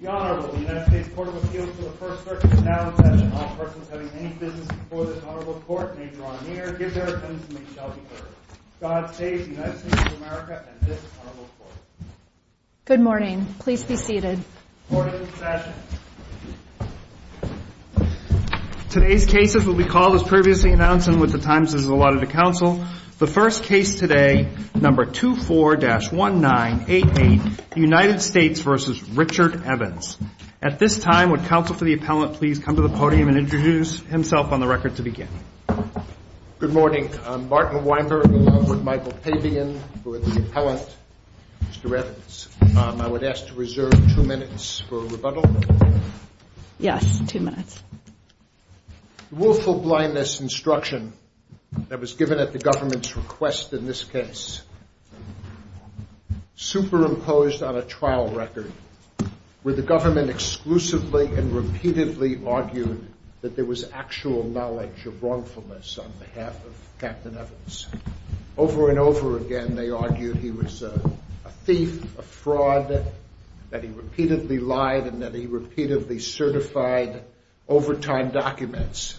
The Honorable, the United States Court of Appeals to the First Circuit now in session. All persons having any business before this Honorable Court may draw near, give their opinions, and they shall be heard. God save the United States of America and this Honorable Court. Good morning. Please be seated. Morning session. Today's cases will be called as previously announced and with the times as allotted to counsel, the first case today, number 24-1988, United States v. Richard Evans. At this time, would counsel for the appellant please come to the podium and introduce himself on the record to begin? Good morning. I'm Martin Weinberg along with Michael Pabian, who is the appellant. Mr. Evans, I would ask to reserve two minutes for rebuttal. Yes, two minutes. The willful blindness instruction that was given at the government's request in this case superimposed on a trial record where the government exclusively and repeatedly argued that there was actual knowledge of wrongfulness on behalf of Captain Evans. Over and over again, they argued he was a thief, a fraud, that he repeatedly lied and that he repeatedly certified overtime documents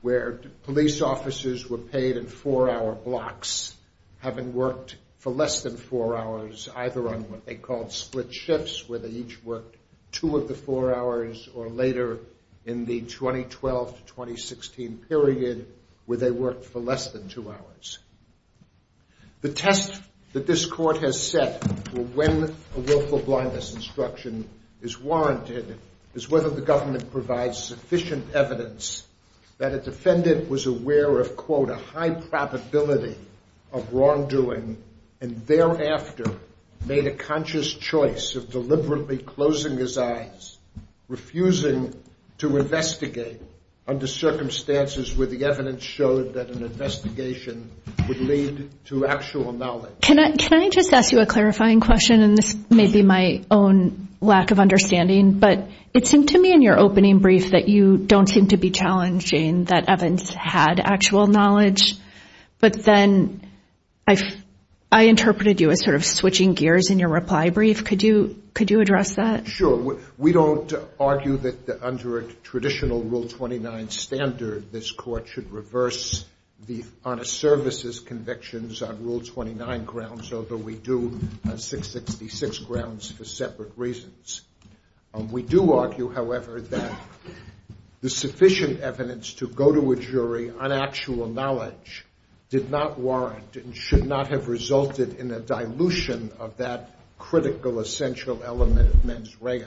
where police officers were paid in four-hour blocks having worked for less than four hours either on what they called split shifts where they each worked two of the four hours or later in the 2012-2016 period where they worked for less than two hours. The test that this court has set for when a willful blindness instruction is warranted is whether the government provides sufficient evidence that a defendant was aware of, quote, a high probability of wrongdoing and thereafter made a conscious choice of deliberately closing his eyes, refusing to investigate under circumstances where the evidence showed that an investigation would lead to actual knowledge. Can I just ask you a clarifying question, and this may be my own lack of understanding, but it seemed to me in your opening brief that you don't seem to be challenging that Evans had actual knowledge, but then I interpreted you as sort of switching gears in your reply brief. Could you address that? Sure. We don't argue that under a traditional Rule 29 standard this court should reverse the honest services convictions on Rule 29 grounds, although we do on 666 grounds for separate reasons. We do argue, however, that the sufficient evidence to go to a jury on actual knowledge did not warrant and should not have resulted in a dilution of that critical essential element of mens rea,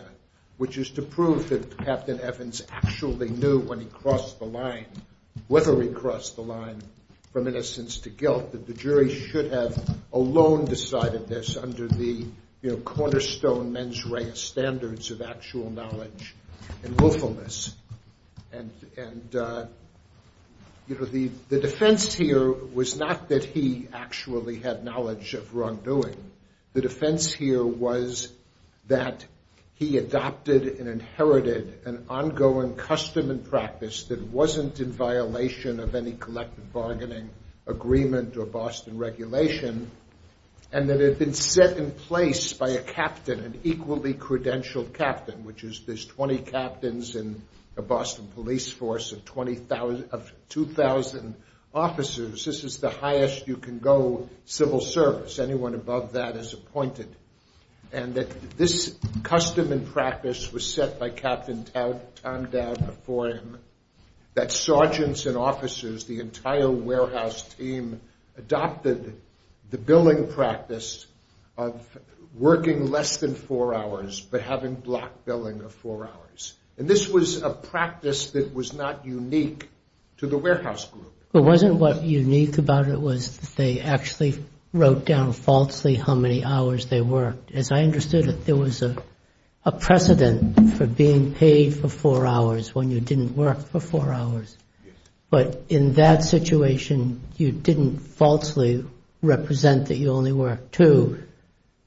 which is to prove that Captain Evans actually knew when he crossed the line, whether he crossed the line from innocence to guilt, that the jury should have alone decided this under the cornerstone mens rea standards of actual knowledge and willfulness. And the defense here was not that he actually had knowledge of wrongdoing. The defense here was that he adopted and inherited an ongoing custom and practice that wasn't in violation of any collective bargaining agreement or Boston regulation and that it had been set in place by a captain, an equally credentialed captain, which is there's 20 captains in a Boston police force of 2,000 officers. This is the highest you can go civil service. Anyone above that is appointed. And this custom and practice was set by Captain Tondav before him that sergeants and officers, the entire warehouse team, adopted the billing practice of working less than four hours but having block billing of four hours. And this was a practice that was not unique to the warehouse group. It wasn't what unique about it was they actually wrote down falsely how many hours they worked. As I understood it, there was a precedent for being paid for four hours when you didn't work for four hours. But in that situation, you didn't falsely represent that you only worked two.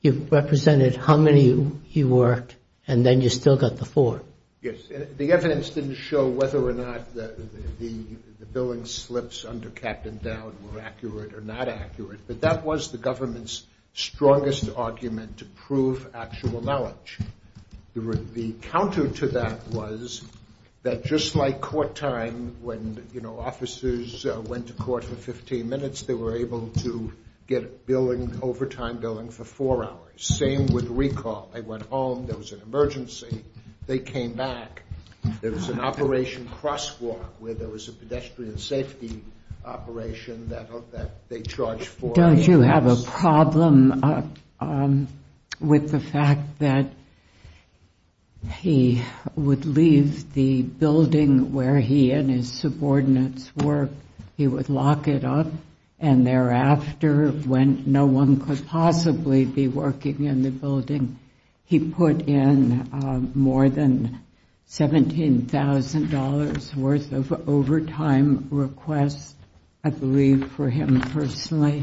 You represented how many you worked and then you still got the four. Yes. The evidence didn't show whether or not the billing slips under Captain Dowd were accurate or not accurate, but that was the government's strongest argument to prove actual knowledge. The counter to that was that just like court time when officers went to court for 15 minutes, they were able to get overtime billing for four hours. Same with recall. They went home. There was an emergency. They came back. There was an operation crosswalk where there was a pedestrian safety operation that they charged four hours. Don't you have a problem with the fact that he would leave the building where he and his subordinates worked. He would lock it up and thereafter when no one could possibly be working in the building, he put in more than $17,000 worth of overtime requests, I believe for him personally,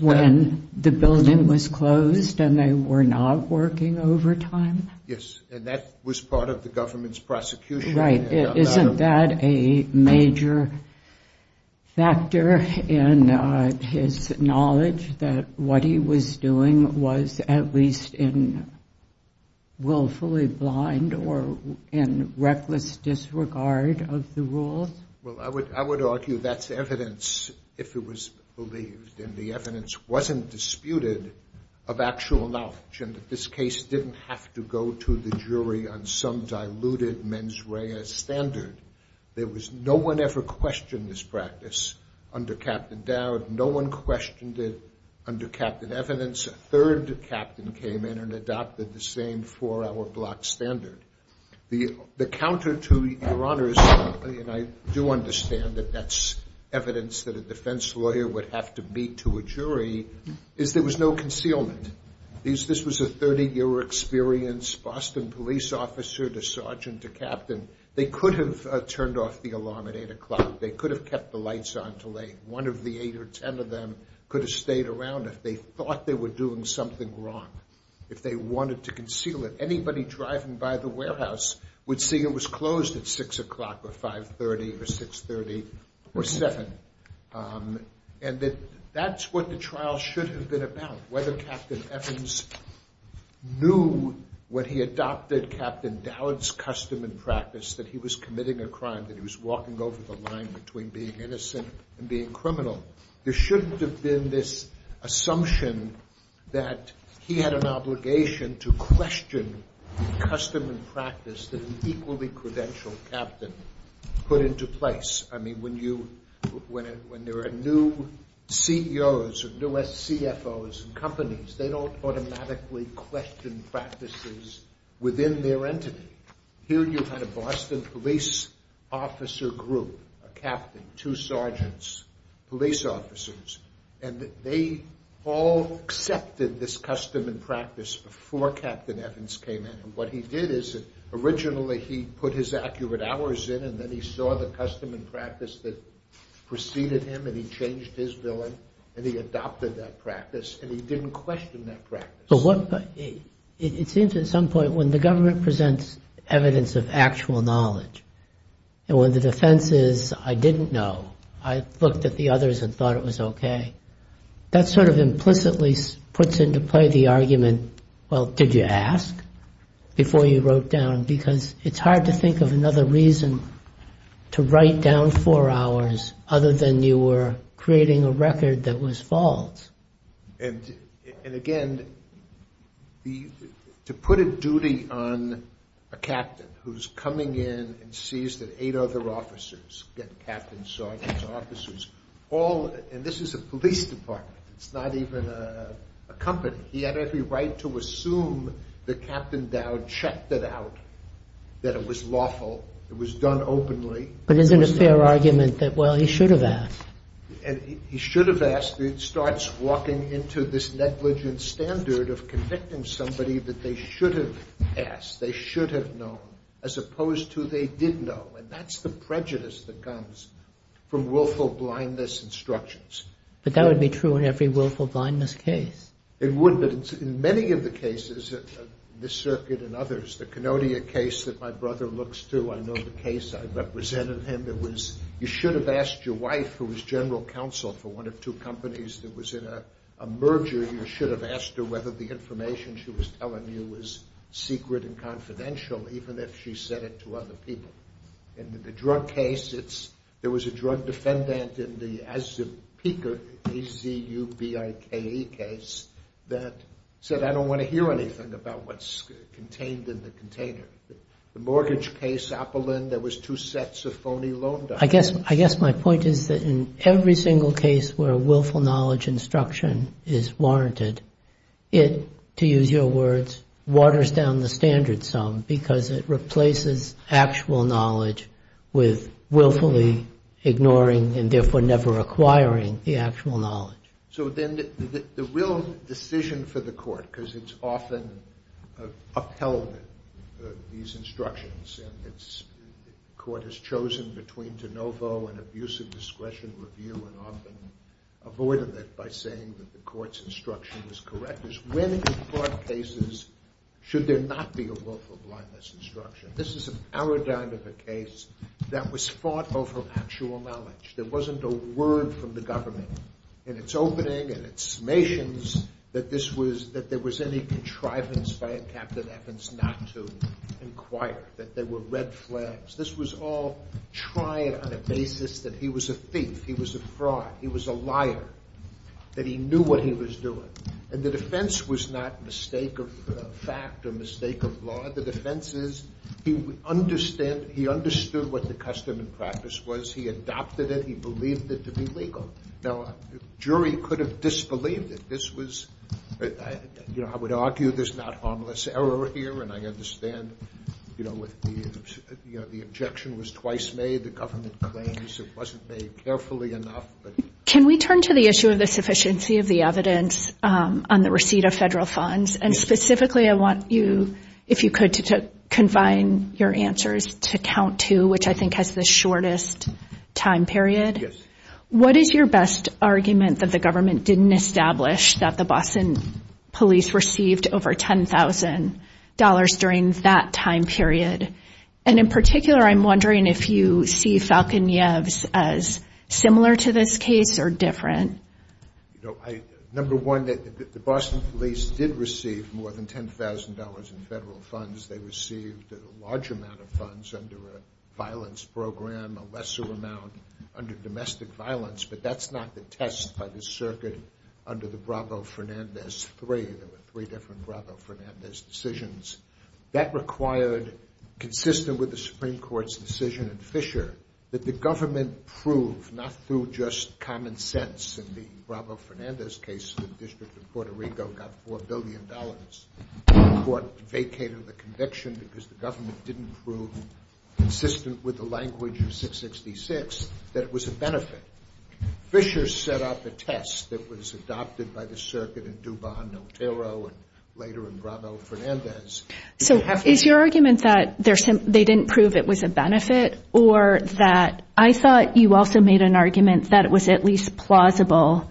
when the building was closed and they were not working overtime. Yes, and that was part of the government's prosecution. Right. Isn't that a major factor in his knowledge that what he was doing was at least willfully blind or in reckless disregard of the rules? Well, I would argue that's evidence if it was believed and the evidence wasn't disputed of actual knowledge that this case didn't have to go to the jury on some diluted mens rea standard. No one ever questioned this practice under Captain Dowd. No one questioned it under Captain Evidence. A third captain came in and adopted the same four-hour block standard. The counter to your honors, and I do understand that that's evidence that a defense lawyer would have to beat to a jury, is there was no concealment. This was a 30-year experience. Boston police officer to sergeant to captain. They could have turned off the alarm at 8 o'clock. They could have kept the lights on till late. One of the 8 or 10 of them could have stayed around if they thought they were doing something wrong, if they wanted to conceal it. Anybody driving by the warehouse would see it was closed at 6 o'clock or 5.30 or 6.30 or 7. And that's what the trial should have been about, whether Captain Evidence knew when he adopted Captain Dowd's custom and practice that he was committing a crime, that he was walking over the line between being innocent and being criminal. There shouldn't have been this assumption that he had an obligation to question the custom and practice that an equally credentialed captain put into place. When there are new CEOs or new SCFOs in companies, they don't automatically question practices within their entity. Here you had a Boston police officer group, a captain, two sergeants, police officers, and they all accepted this custom and practice before Captain Evidence came in. What he did is, originally he put his accurate hours in and then he saw the custom and practice that preceded him and he changed his billing and he adopted that practice and he didn't question that practice. It seems at some point when the government presents evidence of actual knowledge and when the defense is, I didn't know, I looked at the others and thought it was okay, that sort of implicitly puts into play the argument, well, did you ask before you wrote down? Because it's hard to think of another reason to write down four hours other than you were creating a record that was false. And again, to put a duty on a captain who's coming in and sees that eight other officers, get captains, sergeants, officers, all, and this is a police department, it's not even a company, he had every right to assume that Captain Dowd checked it out, that it was lawful, it was done openly. But isn't it a fair argument that, well, he should have asked? He should have asked, it starts walking into this negligent standard of convicting somebody that they should have asked, they should have known, as opposed to they did know. And that's the prejudice that comes from willful blindness instructions. But that would be true in every willful blindness case. It would, but in many of the cases, this circuit and others, the Kenodia case that my brother looks to, I know the case I represented him, it was, you should have asked your wife, who was general counsel for one of two companies that was in a merger, you should have asked her whether the information she was telling you was secret and confidential, even if she said it to other people. In the drug case, it's, there was a drug defendant in the Azubike case that said, I don't want to hear anything about what's contained in the container. The mortgage case, Appolin, there was two sets of phony loan documents. I guess my point is that in every single case where a willful knowledge instruction is warranted, it, to use your words, waters down the standard some, because it replaces actual knowledge with willfully ignoring and therefore never acquiring the actual knowledge. So then the real decision for the court, because it's often upheld, these instructions, and it's, the court has chosen between de novo and abusive discretion review and often avoided that by saying that the court's instruction is correct, is when in court cases should there not be a willful blindness instruction? This is a paradigm of a case that was fought over actual knowledge. There wasn't a word from the government in its opening and its summations that this was, that there was any contrivance by Captain Evans not to inquire, that there were red flags. This was all tried on a basis that he was a thief, he was a fraud, he was a liar, that he knew what he was doing. And the defense was not mistake of fact or mistake of law. The defense is he understood what the custom and practice was. He adopted it. He believed it to be legal. Now, a jury could have disbelieved it. This was, you know, I would argue there's not harmless error here, and I understand, you know, the objection was twice made. The government claims it wasn't made carefully enough. Can we turn to the issue of the sufficiency of the evidence on the receipt of federal funds? And specifically, I want you, if you could, to confine your answers to count two, which I think has the shortest time period. Yes. What is your best argument that the government didn't establish that the Boston police received over $10,000 during that time period? And in particular, I'm wondering if you see Falconev's as similar to this case or different? You know, number one, the Boston police did receive more than $10,000 in federal funds. They received a large amount of funds under a violence program, a lesser amount under domestic violence, but that's not the test by the circuit under the Bravo-Fernandez III. There were three different Bravo-Fernandez decisions. That required, consistent with the Supreme Court's decision in Fisher, that the government prove, not through just common sense in the Bravo-Fernandez case, the district of Puerto Rico got $4 billion. The court vacated the conviction because the government didn't prove, consistent with the language of 666, that it was a benefit. Fisher set up a test that was adopted by the circuit in Dubon, Otero, and later in Bravo-Fernandez. So is your argument that they didn't prove it was a benefit or that I thought you also made an argument that it was at least plausible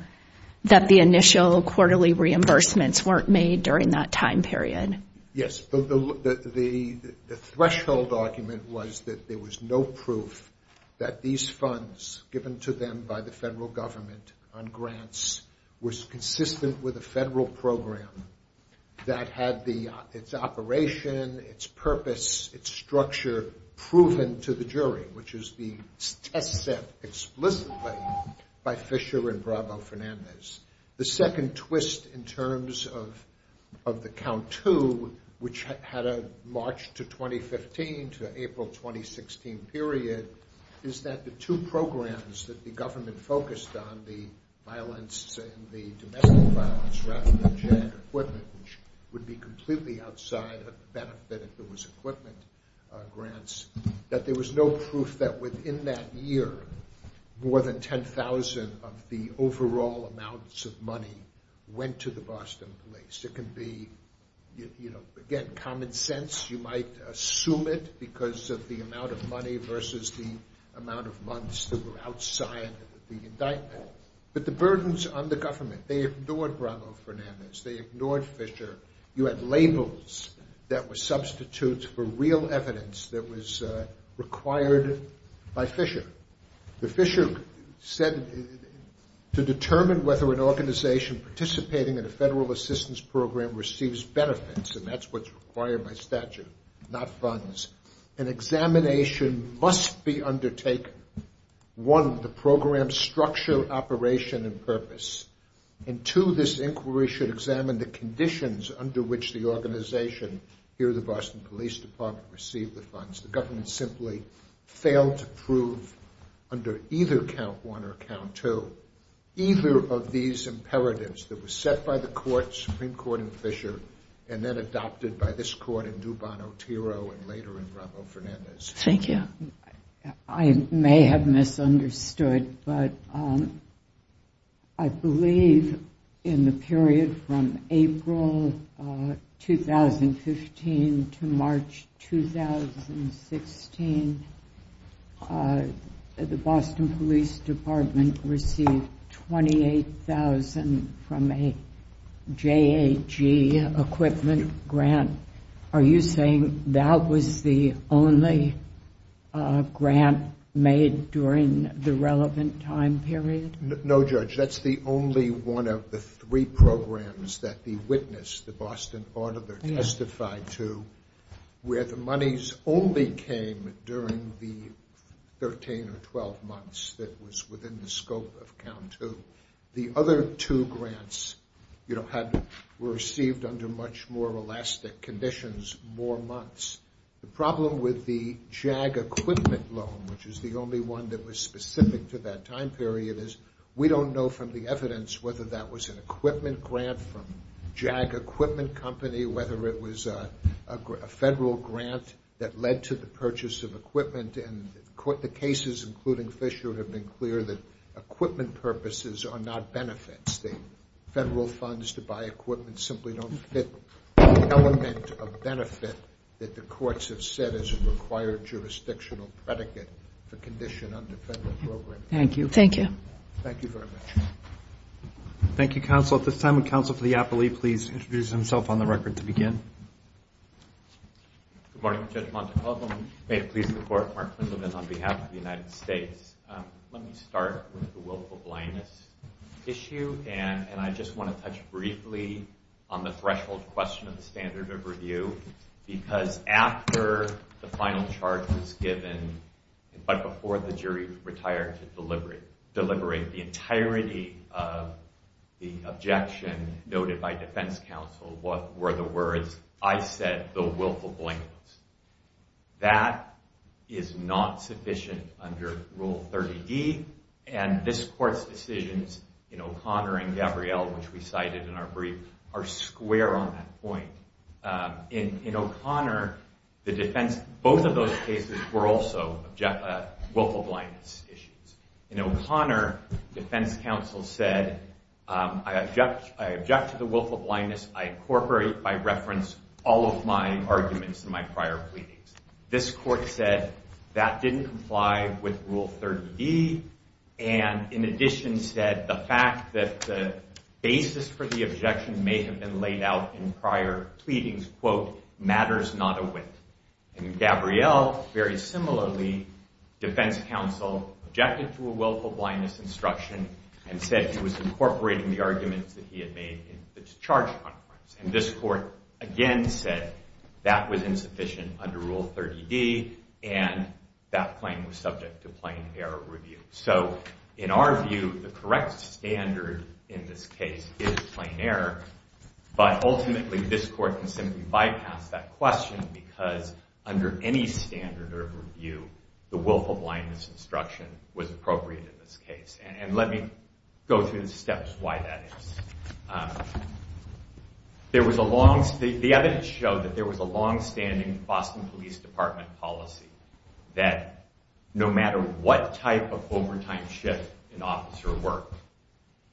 that the initial quarterly reimbursements weren't made during that time period? Yes, the threshold argument was that there was no proof that these funds, given to them by the federal government on grants, was consistent with a federal program that had its operation, its purpose, its structure, proven to the jury, which is the test set explicitly by Fisher and Bravo-Fernandez. The second twist in terms of the count two, which had a March 2015 to April 2016 period, is that the two programs that the government focused on, the violence and the domestic violence, rather than general equipment, which would be completely outside of the benefit if there was equipment grants, that there was no proof that within that year more than $10,000 of the overall amounts of money went to the Boston police. It can be, again, common sense. You might assume it because of the amount of money versus the amount of months that were outside of the indictment. But the burdens on the government, they ignored Bravo-Fernandez. They ignored Fisher. You had labels that were substitutes for real evidence that was required by Fisher. The Fisher said to determine whether an organization participating in a federal assistance program receives benefits, and that's what's required by statute, not funds, an examination must be undertaken. One, the program's structure, operation, and purpose. And two, this inquiry should examine the conditions under which the organization, here the Boston Police Department, received the funds. The government simply failed to prove under either count one or count two either of these imperatives that were set by the courts, Supreme Court and Fisher, and then adopted by this court in Dubon-Otero and later in Bravo-Fernandez. Thank you. I may have misunderstood, but I believe in the period from April 2015 to March 2016, the Boston Police Department received $28,000 from a JAG equipment grant. Are you saying that was the only grant made during the relevant time period? No, Judge. That's the only one of the three programs that the witness, the Boston auditor, testified to where the monies only came during the 13 or 12 months that was within the scope of count two. The other two grants were received under much more elastic conditions more months. The problem with the JAG equipment loan, which is the only one that was specific to that time period, is we don't know from the evidence whether that was an equipment grant from JAG equipment company, whether it was a federal grant that led to the purchase of equipment. And the cases, including Fisher, have been clear that equipment purposes are not benefits. Federal funds to buy equipment simply don't fit the element of benefit that the courts have set as a required jurisdictional predicate for condition under federal program. Thank you. Thank you very much. Thank you, counsel. At this time, would counsel for the appellee please introduce himself on the record to begin? Good morning, Judge Montecalvo. May it please the court, Mark Quindlivan on behalf of the United States. Let me start with the willful blindness issue. And I just want to touch briefly on the threshold question of the standard of review because after the final charge was given, but before the jury retired to deliberate the entirety of the objection noted by defense counsel, what were the words? I said, the willful blindness. That is not sufficient under Rule 30D and this court's decisions in O'Connor and Gabrielle which we cited in our brief are square on that point. In O'Connor, both of those cases were also willful blindness issues. In O'Connor, defense counsel said I object to the willful blindness. I incorporate by reference all of my arguments in my prior pleadings. This court said that didn't comply with Rule 30D and in addition said the fact that the basis for the objection may have been laid out in prior pleadings quote, matters not a whit. In Gabrielle, very similarly, defense counsel objected to a willful blindness instruction and said he was incorporating the arguments that he had made in the charge conference. This court again said that was insufficient under Rule 30D and that claim was subject to plain error review. In our view, the correct standard in this case is plain error but ultimately this court can simply bypass that question because under any standard of review the willful blindness instruction was appropriate in this case. Let me go through the steps why that is. There was a long the evidence showed that there was a long standing Boston Police Department policy that no matter what type of overtime shift an officer worked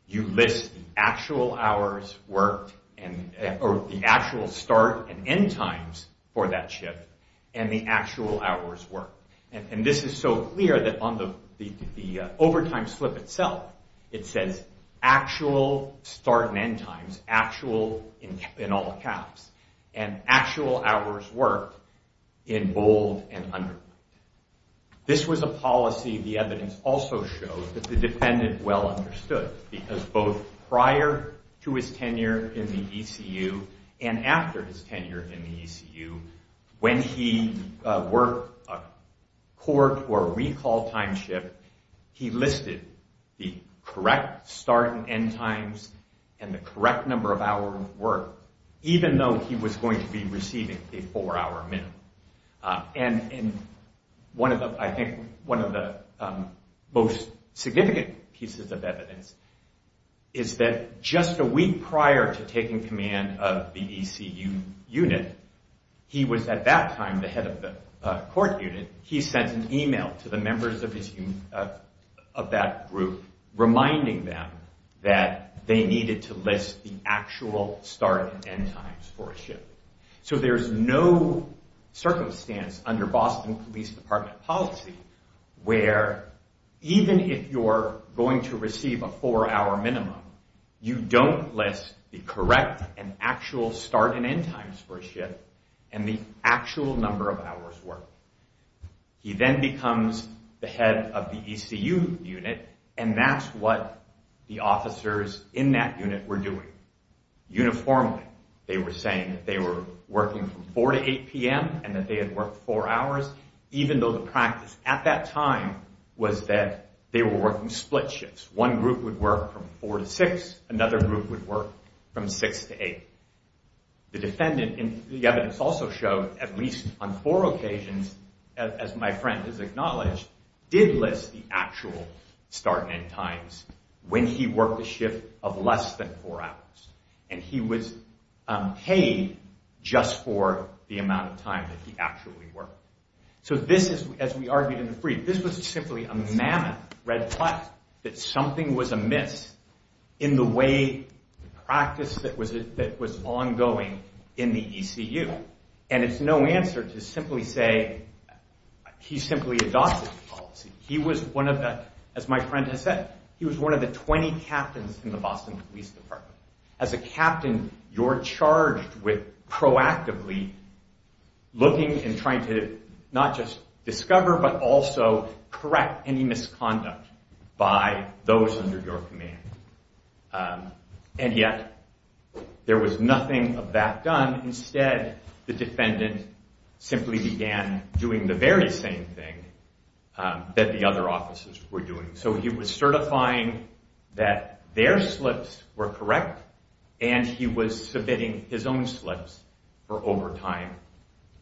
you list the actual hours worked or the actual start and end times for that shift and the actual hours worked and this is so clear that on the overtime slip itself it says actual start and end times actual in all caps and actual hours worked in bold and underlined. This was a policy the evidence also showed that the defendant well understood because both prior to his tenure in the ECU and after his tenure in the ECU when he worked a court or recall time shift he listed the correct start and end times and the correct number of hours worked even though he was going to be receiving a four hour minimum. I think one of the most significant pieces of evidence is that just a week prior to taking command of the ECU unit he was at that time the head of the court unit. He sent an email to the members of his of that group reminding them that they needed to list the actual start and end times for a shift. So there's no circumstance under Boston Police Department policy where even if you're going to receive a four hour minimum you don't list the correct and actual start and end times for a shift and the actual number of hours worked. He then becomes the head of the ECU unit and that's what the officers in that unit were doing. Uniformly they were saying that they were working from 4 to 8 p.m. and that they had worked four hours even though the practice at that time was that they were working split shifts. One group would work from 4 to 6, another group would work from 6 to 8. The defendant in the evidence also showed at least on four occasions as my friend has acknowledged did list the actual start and end times when he worked a shift of less than four hours and he was paid just for the amount of time that he actually worked. So this as we argued in the brief, this was simply a mammoth red flag that something was amiss in the way the practice that was ongoing in the ECU and it's no answer to simply say he simply adopted the policy. He was one of the as my friend has said, he was one of the 20 captains in the Boston Police Department. As a captain you're charged with proactively looking and trying to not just discover but also correct any misconduct by those under your command. And yet there was nothing of that done. Instead the defendant simply began doing the very same thing that the other officers were doing. So he was certifying that their slips were correct and he was submitting his own slips for overtime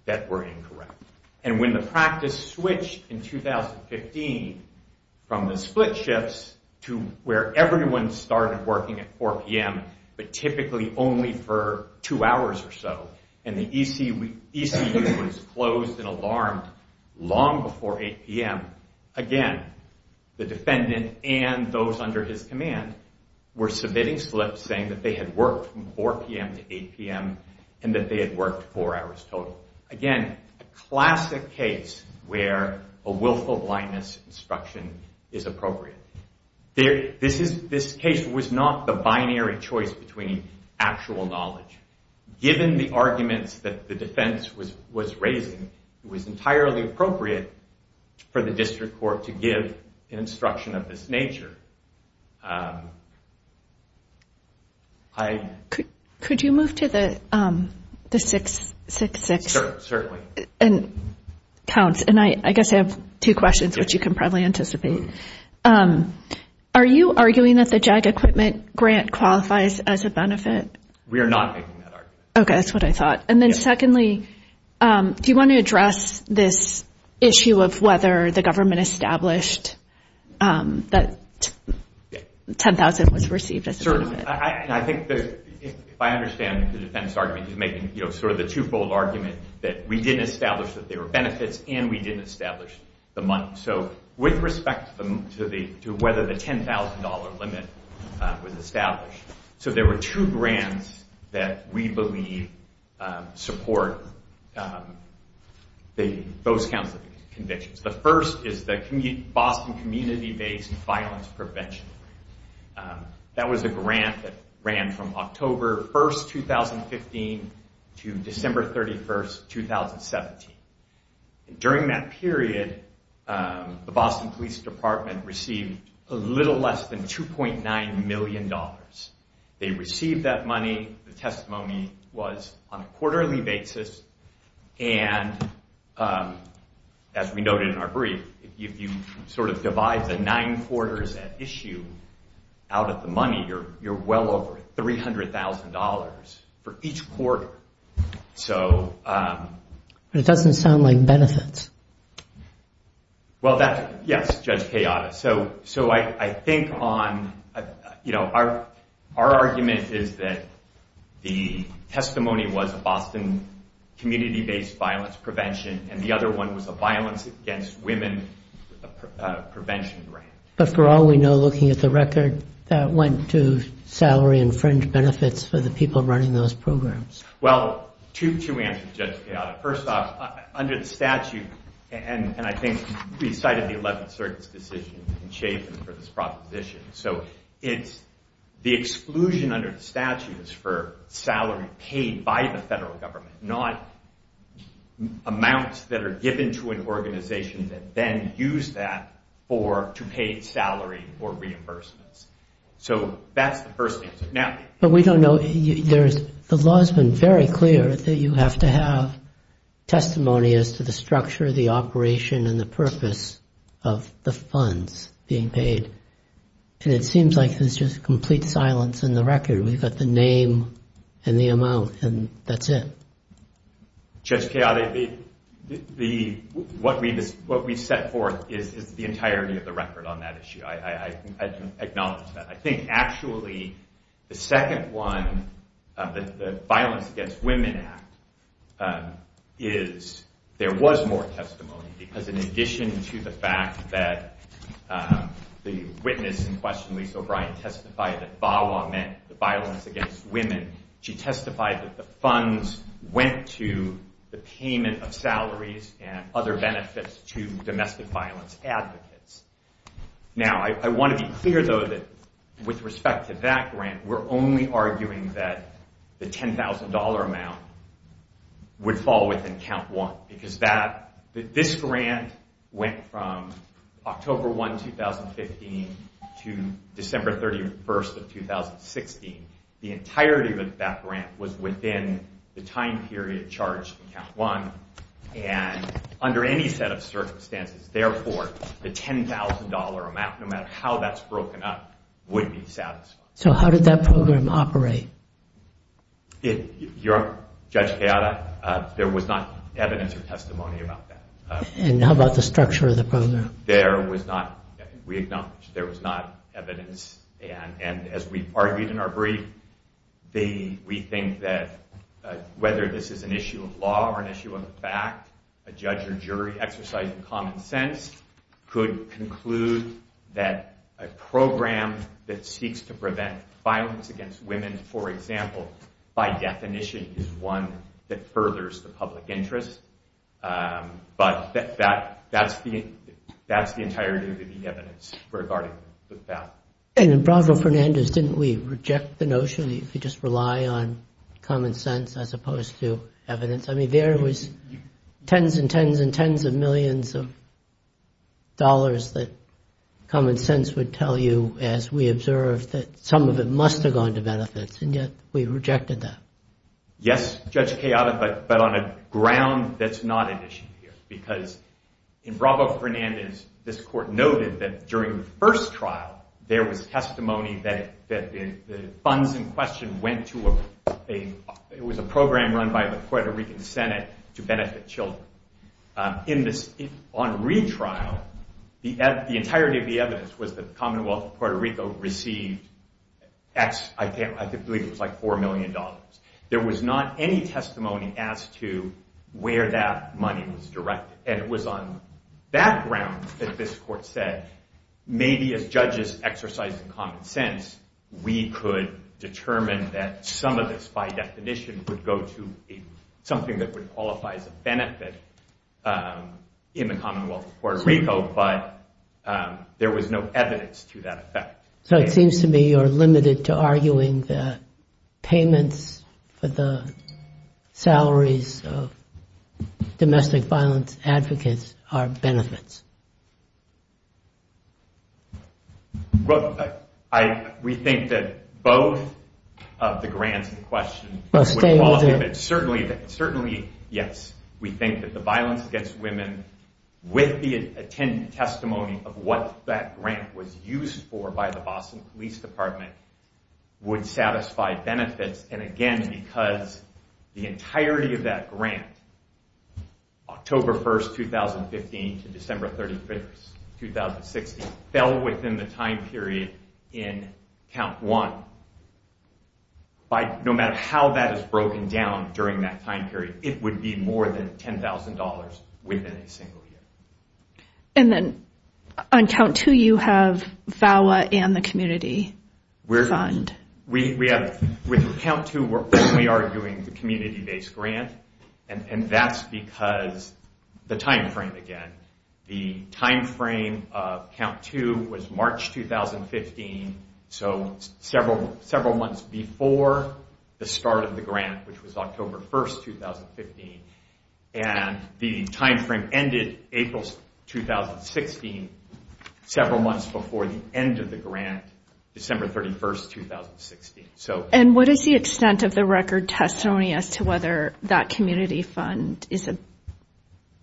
that were incorrect. And when the practice switched in 2015 from the split shifts to where everyone started working at 4pm but typically only for 2 hours or so and the ECU was closed and alarmed long before 8pm again, the defendant and those under his command were submitting slips saying that they had worked from 4pm to 8pm and that they had worked 4 hours total. Again, a classic case where a willful blindness instruction is appropriate. This case was not the binary choice between actual knowledge. Given the arguments that the defense was raising it was entirely appropriate for the district court to give an instruction of this nature. Could you move to the 666? I guess I have two questions which you can probably anticipate. Are you arguing that the JAG equipment grant qualifies as a benefit? We are not making that argument. Okay, that's what I thought. Secondly, do you want to address this issue of whether the government established that $10,000 was received as a benefit? I think I understand the defense argument making the two-fold argument that we didn't establish that there were benefits and we didn't establish the money. With respect to whether the $10,000 limit was established there were two grants that we believe support those kinds of convictions. The first is the Boston Community-Based Violence Prevention. That was a grant that ran from October 1, 2015 to December 31, 2017. During that period the Boston Police Department received a little less than $2.9 million. They received that money. The testimony was on a quarterly basis and as we noted in our brief, if you divide the nine quarters at issue out of the money you're well over $300,000 for each quarter. It doesn't sound like benefits. Yes, Judge Kayada. I think our argument is that the testimony was a Boston Community-Based Violence Prevention and the other one was a Violence Against Women Prevention Grant. But for all we know, looking at the record, that went to salary and fringe benefits for the people running those programs. Well, two answers, Judge Kayada. First off, under the statute and I think we cited the 11th Circuit's decision in Chafin for this proposition. The exclusion under the statute is for salary paid by the federal government not amounts that are given to an organization that then use that to pay salary or reimbursements. That's the first answer. The law has been very clear that you have to have testimony as to the structure of the operation and the purpose of the funds being paid. It seems like there's just complete silence in the record. We've got the name and the amount and that's it. Judge Kayada, what we've set forth is the entirety of the record on that issue. I acknowledge that. I think actually, the second one of the Violence Against Women Act is there was more testimony because in addition to the fact that the witness in question, Elise O'Brien, testified that VAWA meant the violence against women, she testified that the funds went to the payment of salaries and other benefits to domestic violence advocates. Now, I want to be clear, though, that with respect to that grant, we're only arguing that the $10,000 amount would fall within count one because that this grant went from October 1, 2015 to December 31, 2016. The entirety of that grant was within the time period charged in count one and under any set of circumstances, therefore, the $10,000 amount, no matter how that's broken up, would be satisfied. So how did that program operate? Judge Kayada, there was not evidence or testimony about that. And how about the structure of the program? There was not, we acknowledge, there was not evidence and as we've argued in our brief, we think that whether this is an issue of law or an issue of fact, a judge or jury exercising common sense could conclude that a program that seeks to prevent violence against women, for example, by definition is one that furthers the public interest. But that's the entirety of the evidence regarding that. Didn't we reject the notion if you just rely on common sense as opposed to evidence? I mean, there was tens and tens and tens of millions of dollars that common sense would tell you as we observed that some of it must have gone to benefits and yet we rejected that. Yes, Judge Kayada, but on a ground that's not an issue here because in Bravo Fernandez, this court noted that during the first trial, there was testimony that the funds in question went to a program run by the Puerto Rican Senate to benefit children. On retrial, the entirety of the evidence was that the Commonwealth of Puerto Rico received I believe it was like $4 million. There was not any testimony as to where that money was directed. And it was on background that this court said, maybe as judges exercising common sense, we could determine that some of this by definition would go to something that would qualify as a benefit in the Commonwealth of Puerto Rico but there was no evidence to that effect. So it seems to me you're limited to arguing the payments for the salaries of domestic violence advocates are benefits. We think that both of the grants in question certainly yes, we think that the Violence Against Women with the testimony of what that grant was used for by the Boston Police Department would satisfy benefits and again because the entirety of that grant October 1, 2015 to December 31, 2016 fell within the time period in count one. No matter how that is broken down during that time period, it would be more than $10,000 within a single year. And then on count two you have the community fund. With count two we're only arguing the community based grant and that's because the time frame again the time frame of count two was March 2015 so several months before the start of the grant which was October 1, 2015 and the time frame ended April 2016 several months before the end of the grant, December 31, 2016. And what is the extent of the record testimony as to whether that community fund is a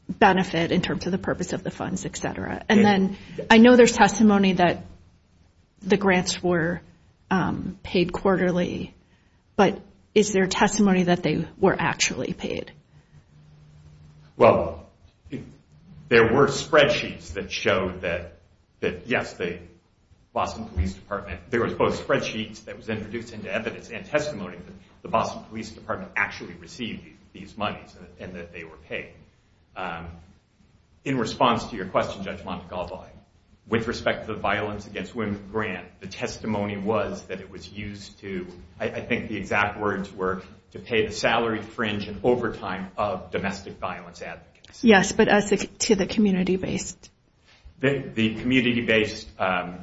benefit in terms of the purpose of the funds, etc.? And then I know there's testimony that the grants were paid quarterly but is there testimony that they were actually paid? Well there were spreadsheets that showed that yes, the Boston Police Department there was both spreadsheets that was introduced into evidence and testimony that the Boston Police Department actually received these monies and that they were paid. In response to your question, Judge Montgomery with respect to the Violence Against Women grant, the testimony was that it was used to I think the exact words were to pay the salary, fringe, and overtime of domestic violence advocates. Yes, but as to the community-based? The community-based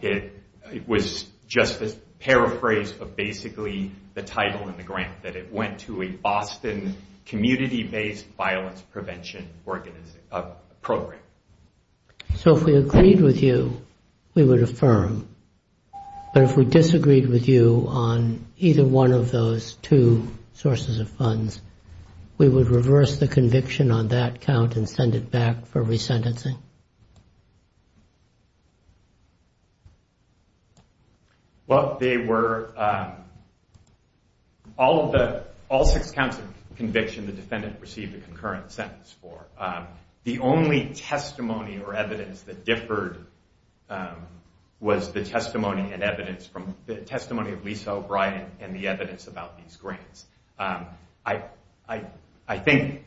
it was just a paraphrase of basically the title in the grant that it went to a Boston community-based violence prevention program. So if we agreed with you, we would affirm but if we disagreed with you on either one of those two sources of funds, we would reverse the conviction on that count and send it back for resentencing? Well they were all six counts of conviction the defendant received a concurrent sentence for. The only testimony or evidence that differed was the testimony and evidence from the testimony of Lisa O'Brien and the evidence about these grants. I think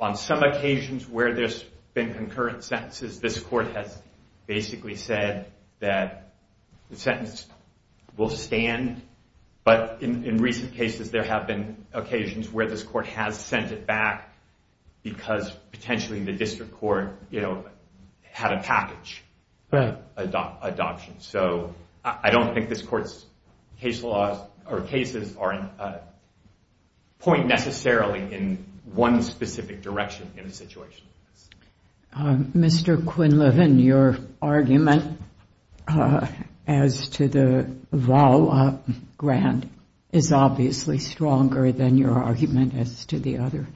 on some occasions where there's been concurrent sentences, this court has basically said that the sentence will stand but in recent cases there have been occasions where this court has sent it back because potentially the district court had a package of adoption. So I don't think this court's cases point necessarily in one specific direction in a situation like this. Mr. Quinlivan your argument as to the VAWA grant is obviously stronger than your argument as to the other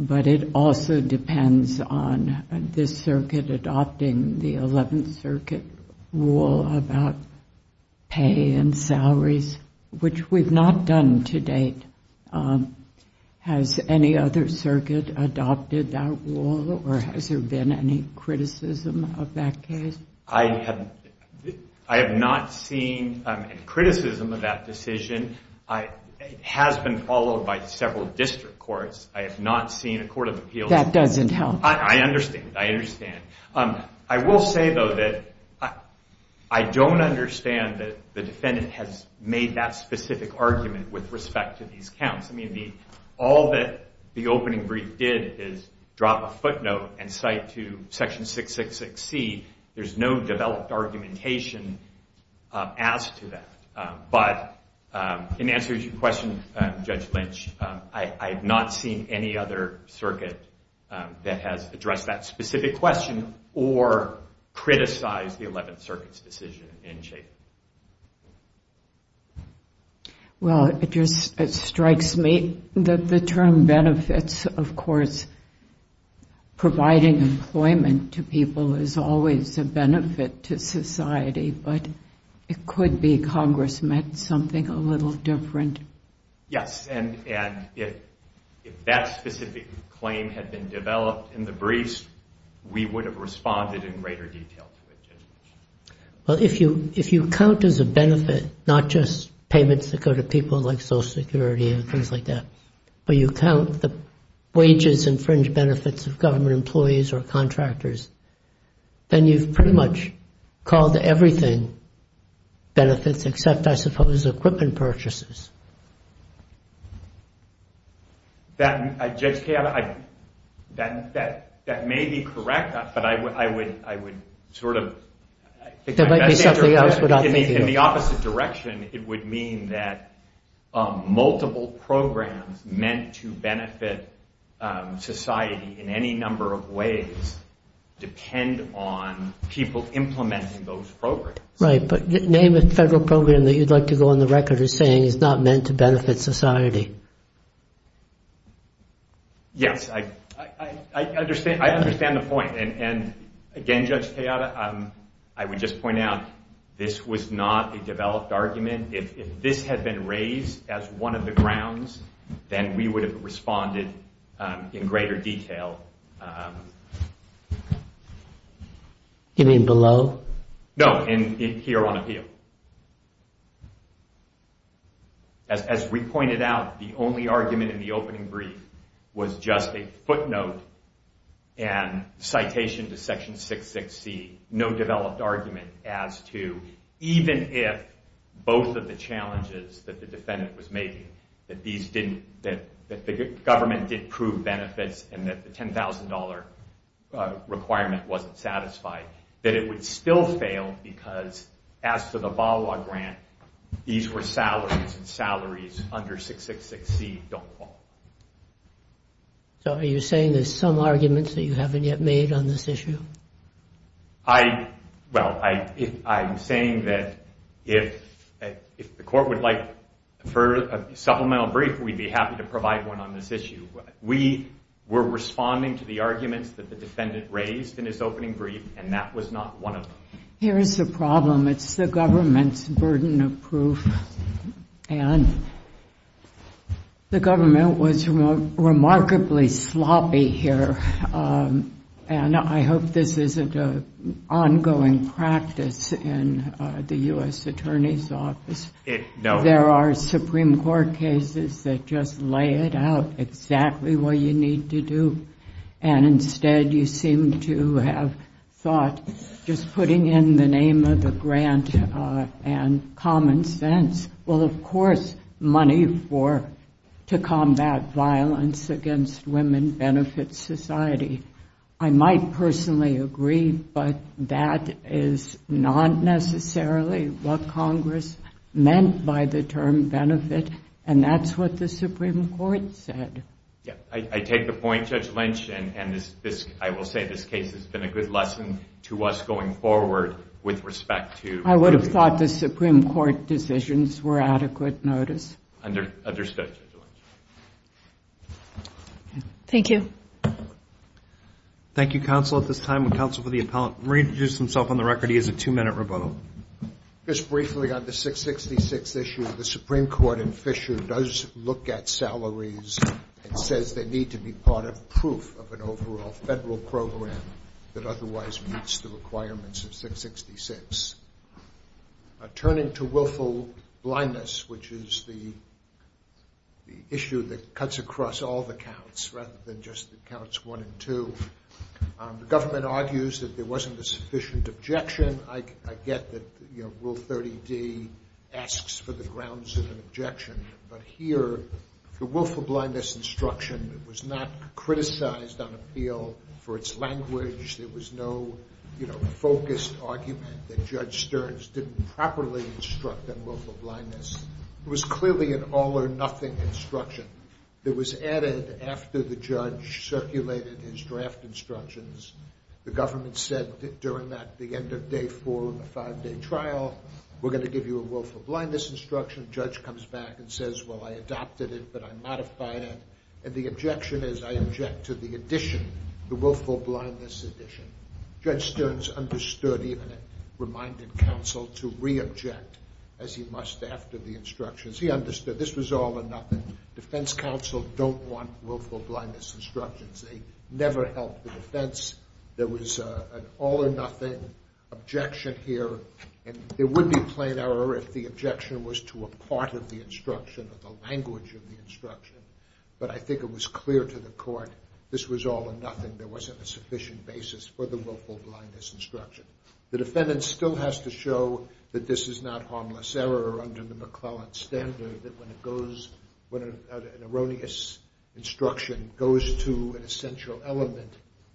but it also depends on this circuit adopting the 11th Circuit rule about pay and salaries which we've not done to date. Has any other circuit adopted that rule or has there been any criticism of that case? I have not seen criticism of that decision. It has been followed by several district courts. I have not seen a court of appeals. That doesn't help. I understand. I will say though that I don't understand that the defendant has made that specific argument with respect to these counts. All that the opening brief did is drop a footnote and cite to section 666C there's no developed argumentation as to that. But in answer to your question Judge Lynch I have not seen any other circuit that has addressed that specific question or criticized the 11th Circuit's decision in shape. Well it just strikes me that the term benefits of course providing employment to people is always a benefit to society but it could be Congress meant something a little different. Yes and if that specific claim had been developed in the briefs we would have responded in greater detail to it. Well if you count as a benefit not just payments that go to people like Social Security and things like that but you count the wages and fringe benefits of government employees or contractors then you've pretty much called everything benefits except I suppose equipment purchases. That may be correct but I would sort of in the opposite direction it would mean that multiple programs meant to benefit society in any number of ways depend on people implementing those programs. Right but name a federal program that you'd like to go on the record as saying is not meant to benefit society. Yes I understand the point and again Judge Tejada I would just point out this was not a developed argument if this had been raised as one of the grounds then we would have responded in greater detail You mean below? No here on appeal. As we pointed out the only argument in the opening brief was just a footnote and citation to section 6.6c no developed argument as to even if both of the challenges that the defendant was making that these didn't that the government did prove benefits and that the $10,000 requirement wasn't satisfied that it would still fail because as to the VAWA grant these were salaries and salaries under 6.6c don't fall. So are you saying there's some arguments that you haven't yet made on this issue? I well I'm saying that if the court would like for a supplemental brief we'd be happy to provide one on this issue. We were responding to the arguments that the defendant raised in his opening brief and that was not one of them. Here's the problem it's the government's burden of proof and the government was remarkably sloppy here and I hope this isn't an ongoing practice in the U.S. Attorney's There are Supreme Court cases that just lay it out exactly what you need to do and instead you seem to have thought just putting in the name of the grant and common sense. Well of course money for to combat violence against women benefits society I might personally agree but that is not necessarily what Congress meant by the term benefit and that's what the Supreme Court said I take the point Judge Lynch and I will say this case has been a good lesson to us going forward with respect to I would have thought the Supreme Court decisions were adequate notice Understood Judge Lynch Thank you Thank you Counsel at this time Counsel for the Appellant. Murray introduced himself on the record he has a two minute rebuttal Just briefly on the 666 issue the Supreme Court in Fisher does look at salaries and says they need to be part of proof of an overall federal program that otherwise meets the requirements of 666 turning to willful blindness which is the issue that cuts across all the counts rather than just the counts 1 and 2 the government argues that there wasn't a sufficient objection I get that rule 30 D asks for the grounds of an objection but here the willful blindness instruction was not criticized on appeal for its language there was no focused argument that Judge Stearns didn't properly instruct on willful blindness. It was clearly an all or nothing instruction that was added after the judge circulated his draft instructions the government said during that end of day 4 of the 5 day trial we're going to give you a willful blindness instruction the judge comes back and says well I adopted it but I modified it and the objection is I object to the addition the willful blindness addition Judge Stearns understood even reminded counsel to re-object as he must after the instructions. He understood this was all or nothing. Defense counsel don't want willful blindness instructions they never helped the defense there was an all or nothing objection here and there would be plain error if the objection was to a part of the language of the instruction but I think it was clear to the court this was all or nothing there wasn't a sufficient basis for the willful blindness instruction. The defendant still has to show that this is not harmless error under the McClelland standard that when it goes when an erroneous instruction goes to an essential element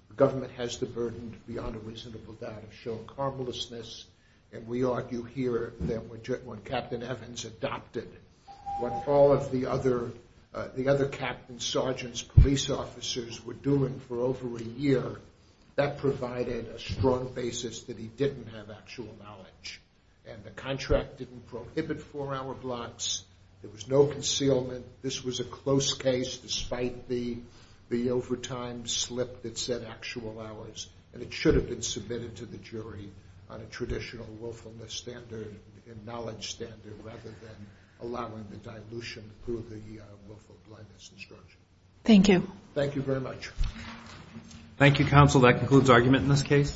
the government has the burden beyond a reasonable doubt of showing harmlessness and we argue here that when Captain Evans adopted what all of the other captains, sergeants, police officers were doing for over a year that provided a strong basis that he didn't have actual knowledge and the contract didn't prohibit four hour blocks there was no concealment this was a close case despite the overtime slip that said actual hours and it should have been submitted to the jury on a traditional willfulness standard a knowledge standard rather than allowing the dilution through the willful blindness instruction Thank you. Thank you very much Thank you counsel that concludes argument in this case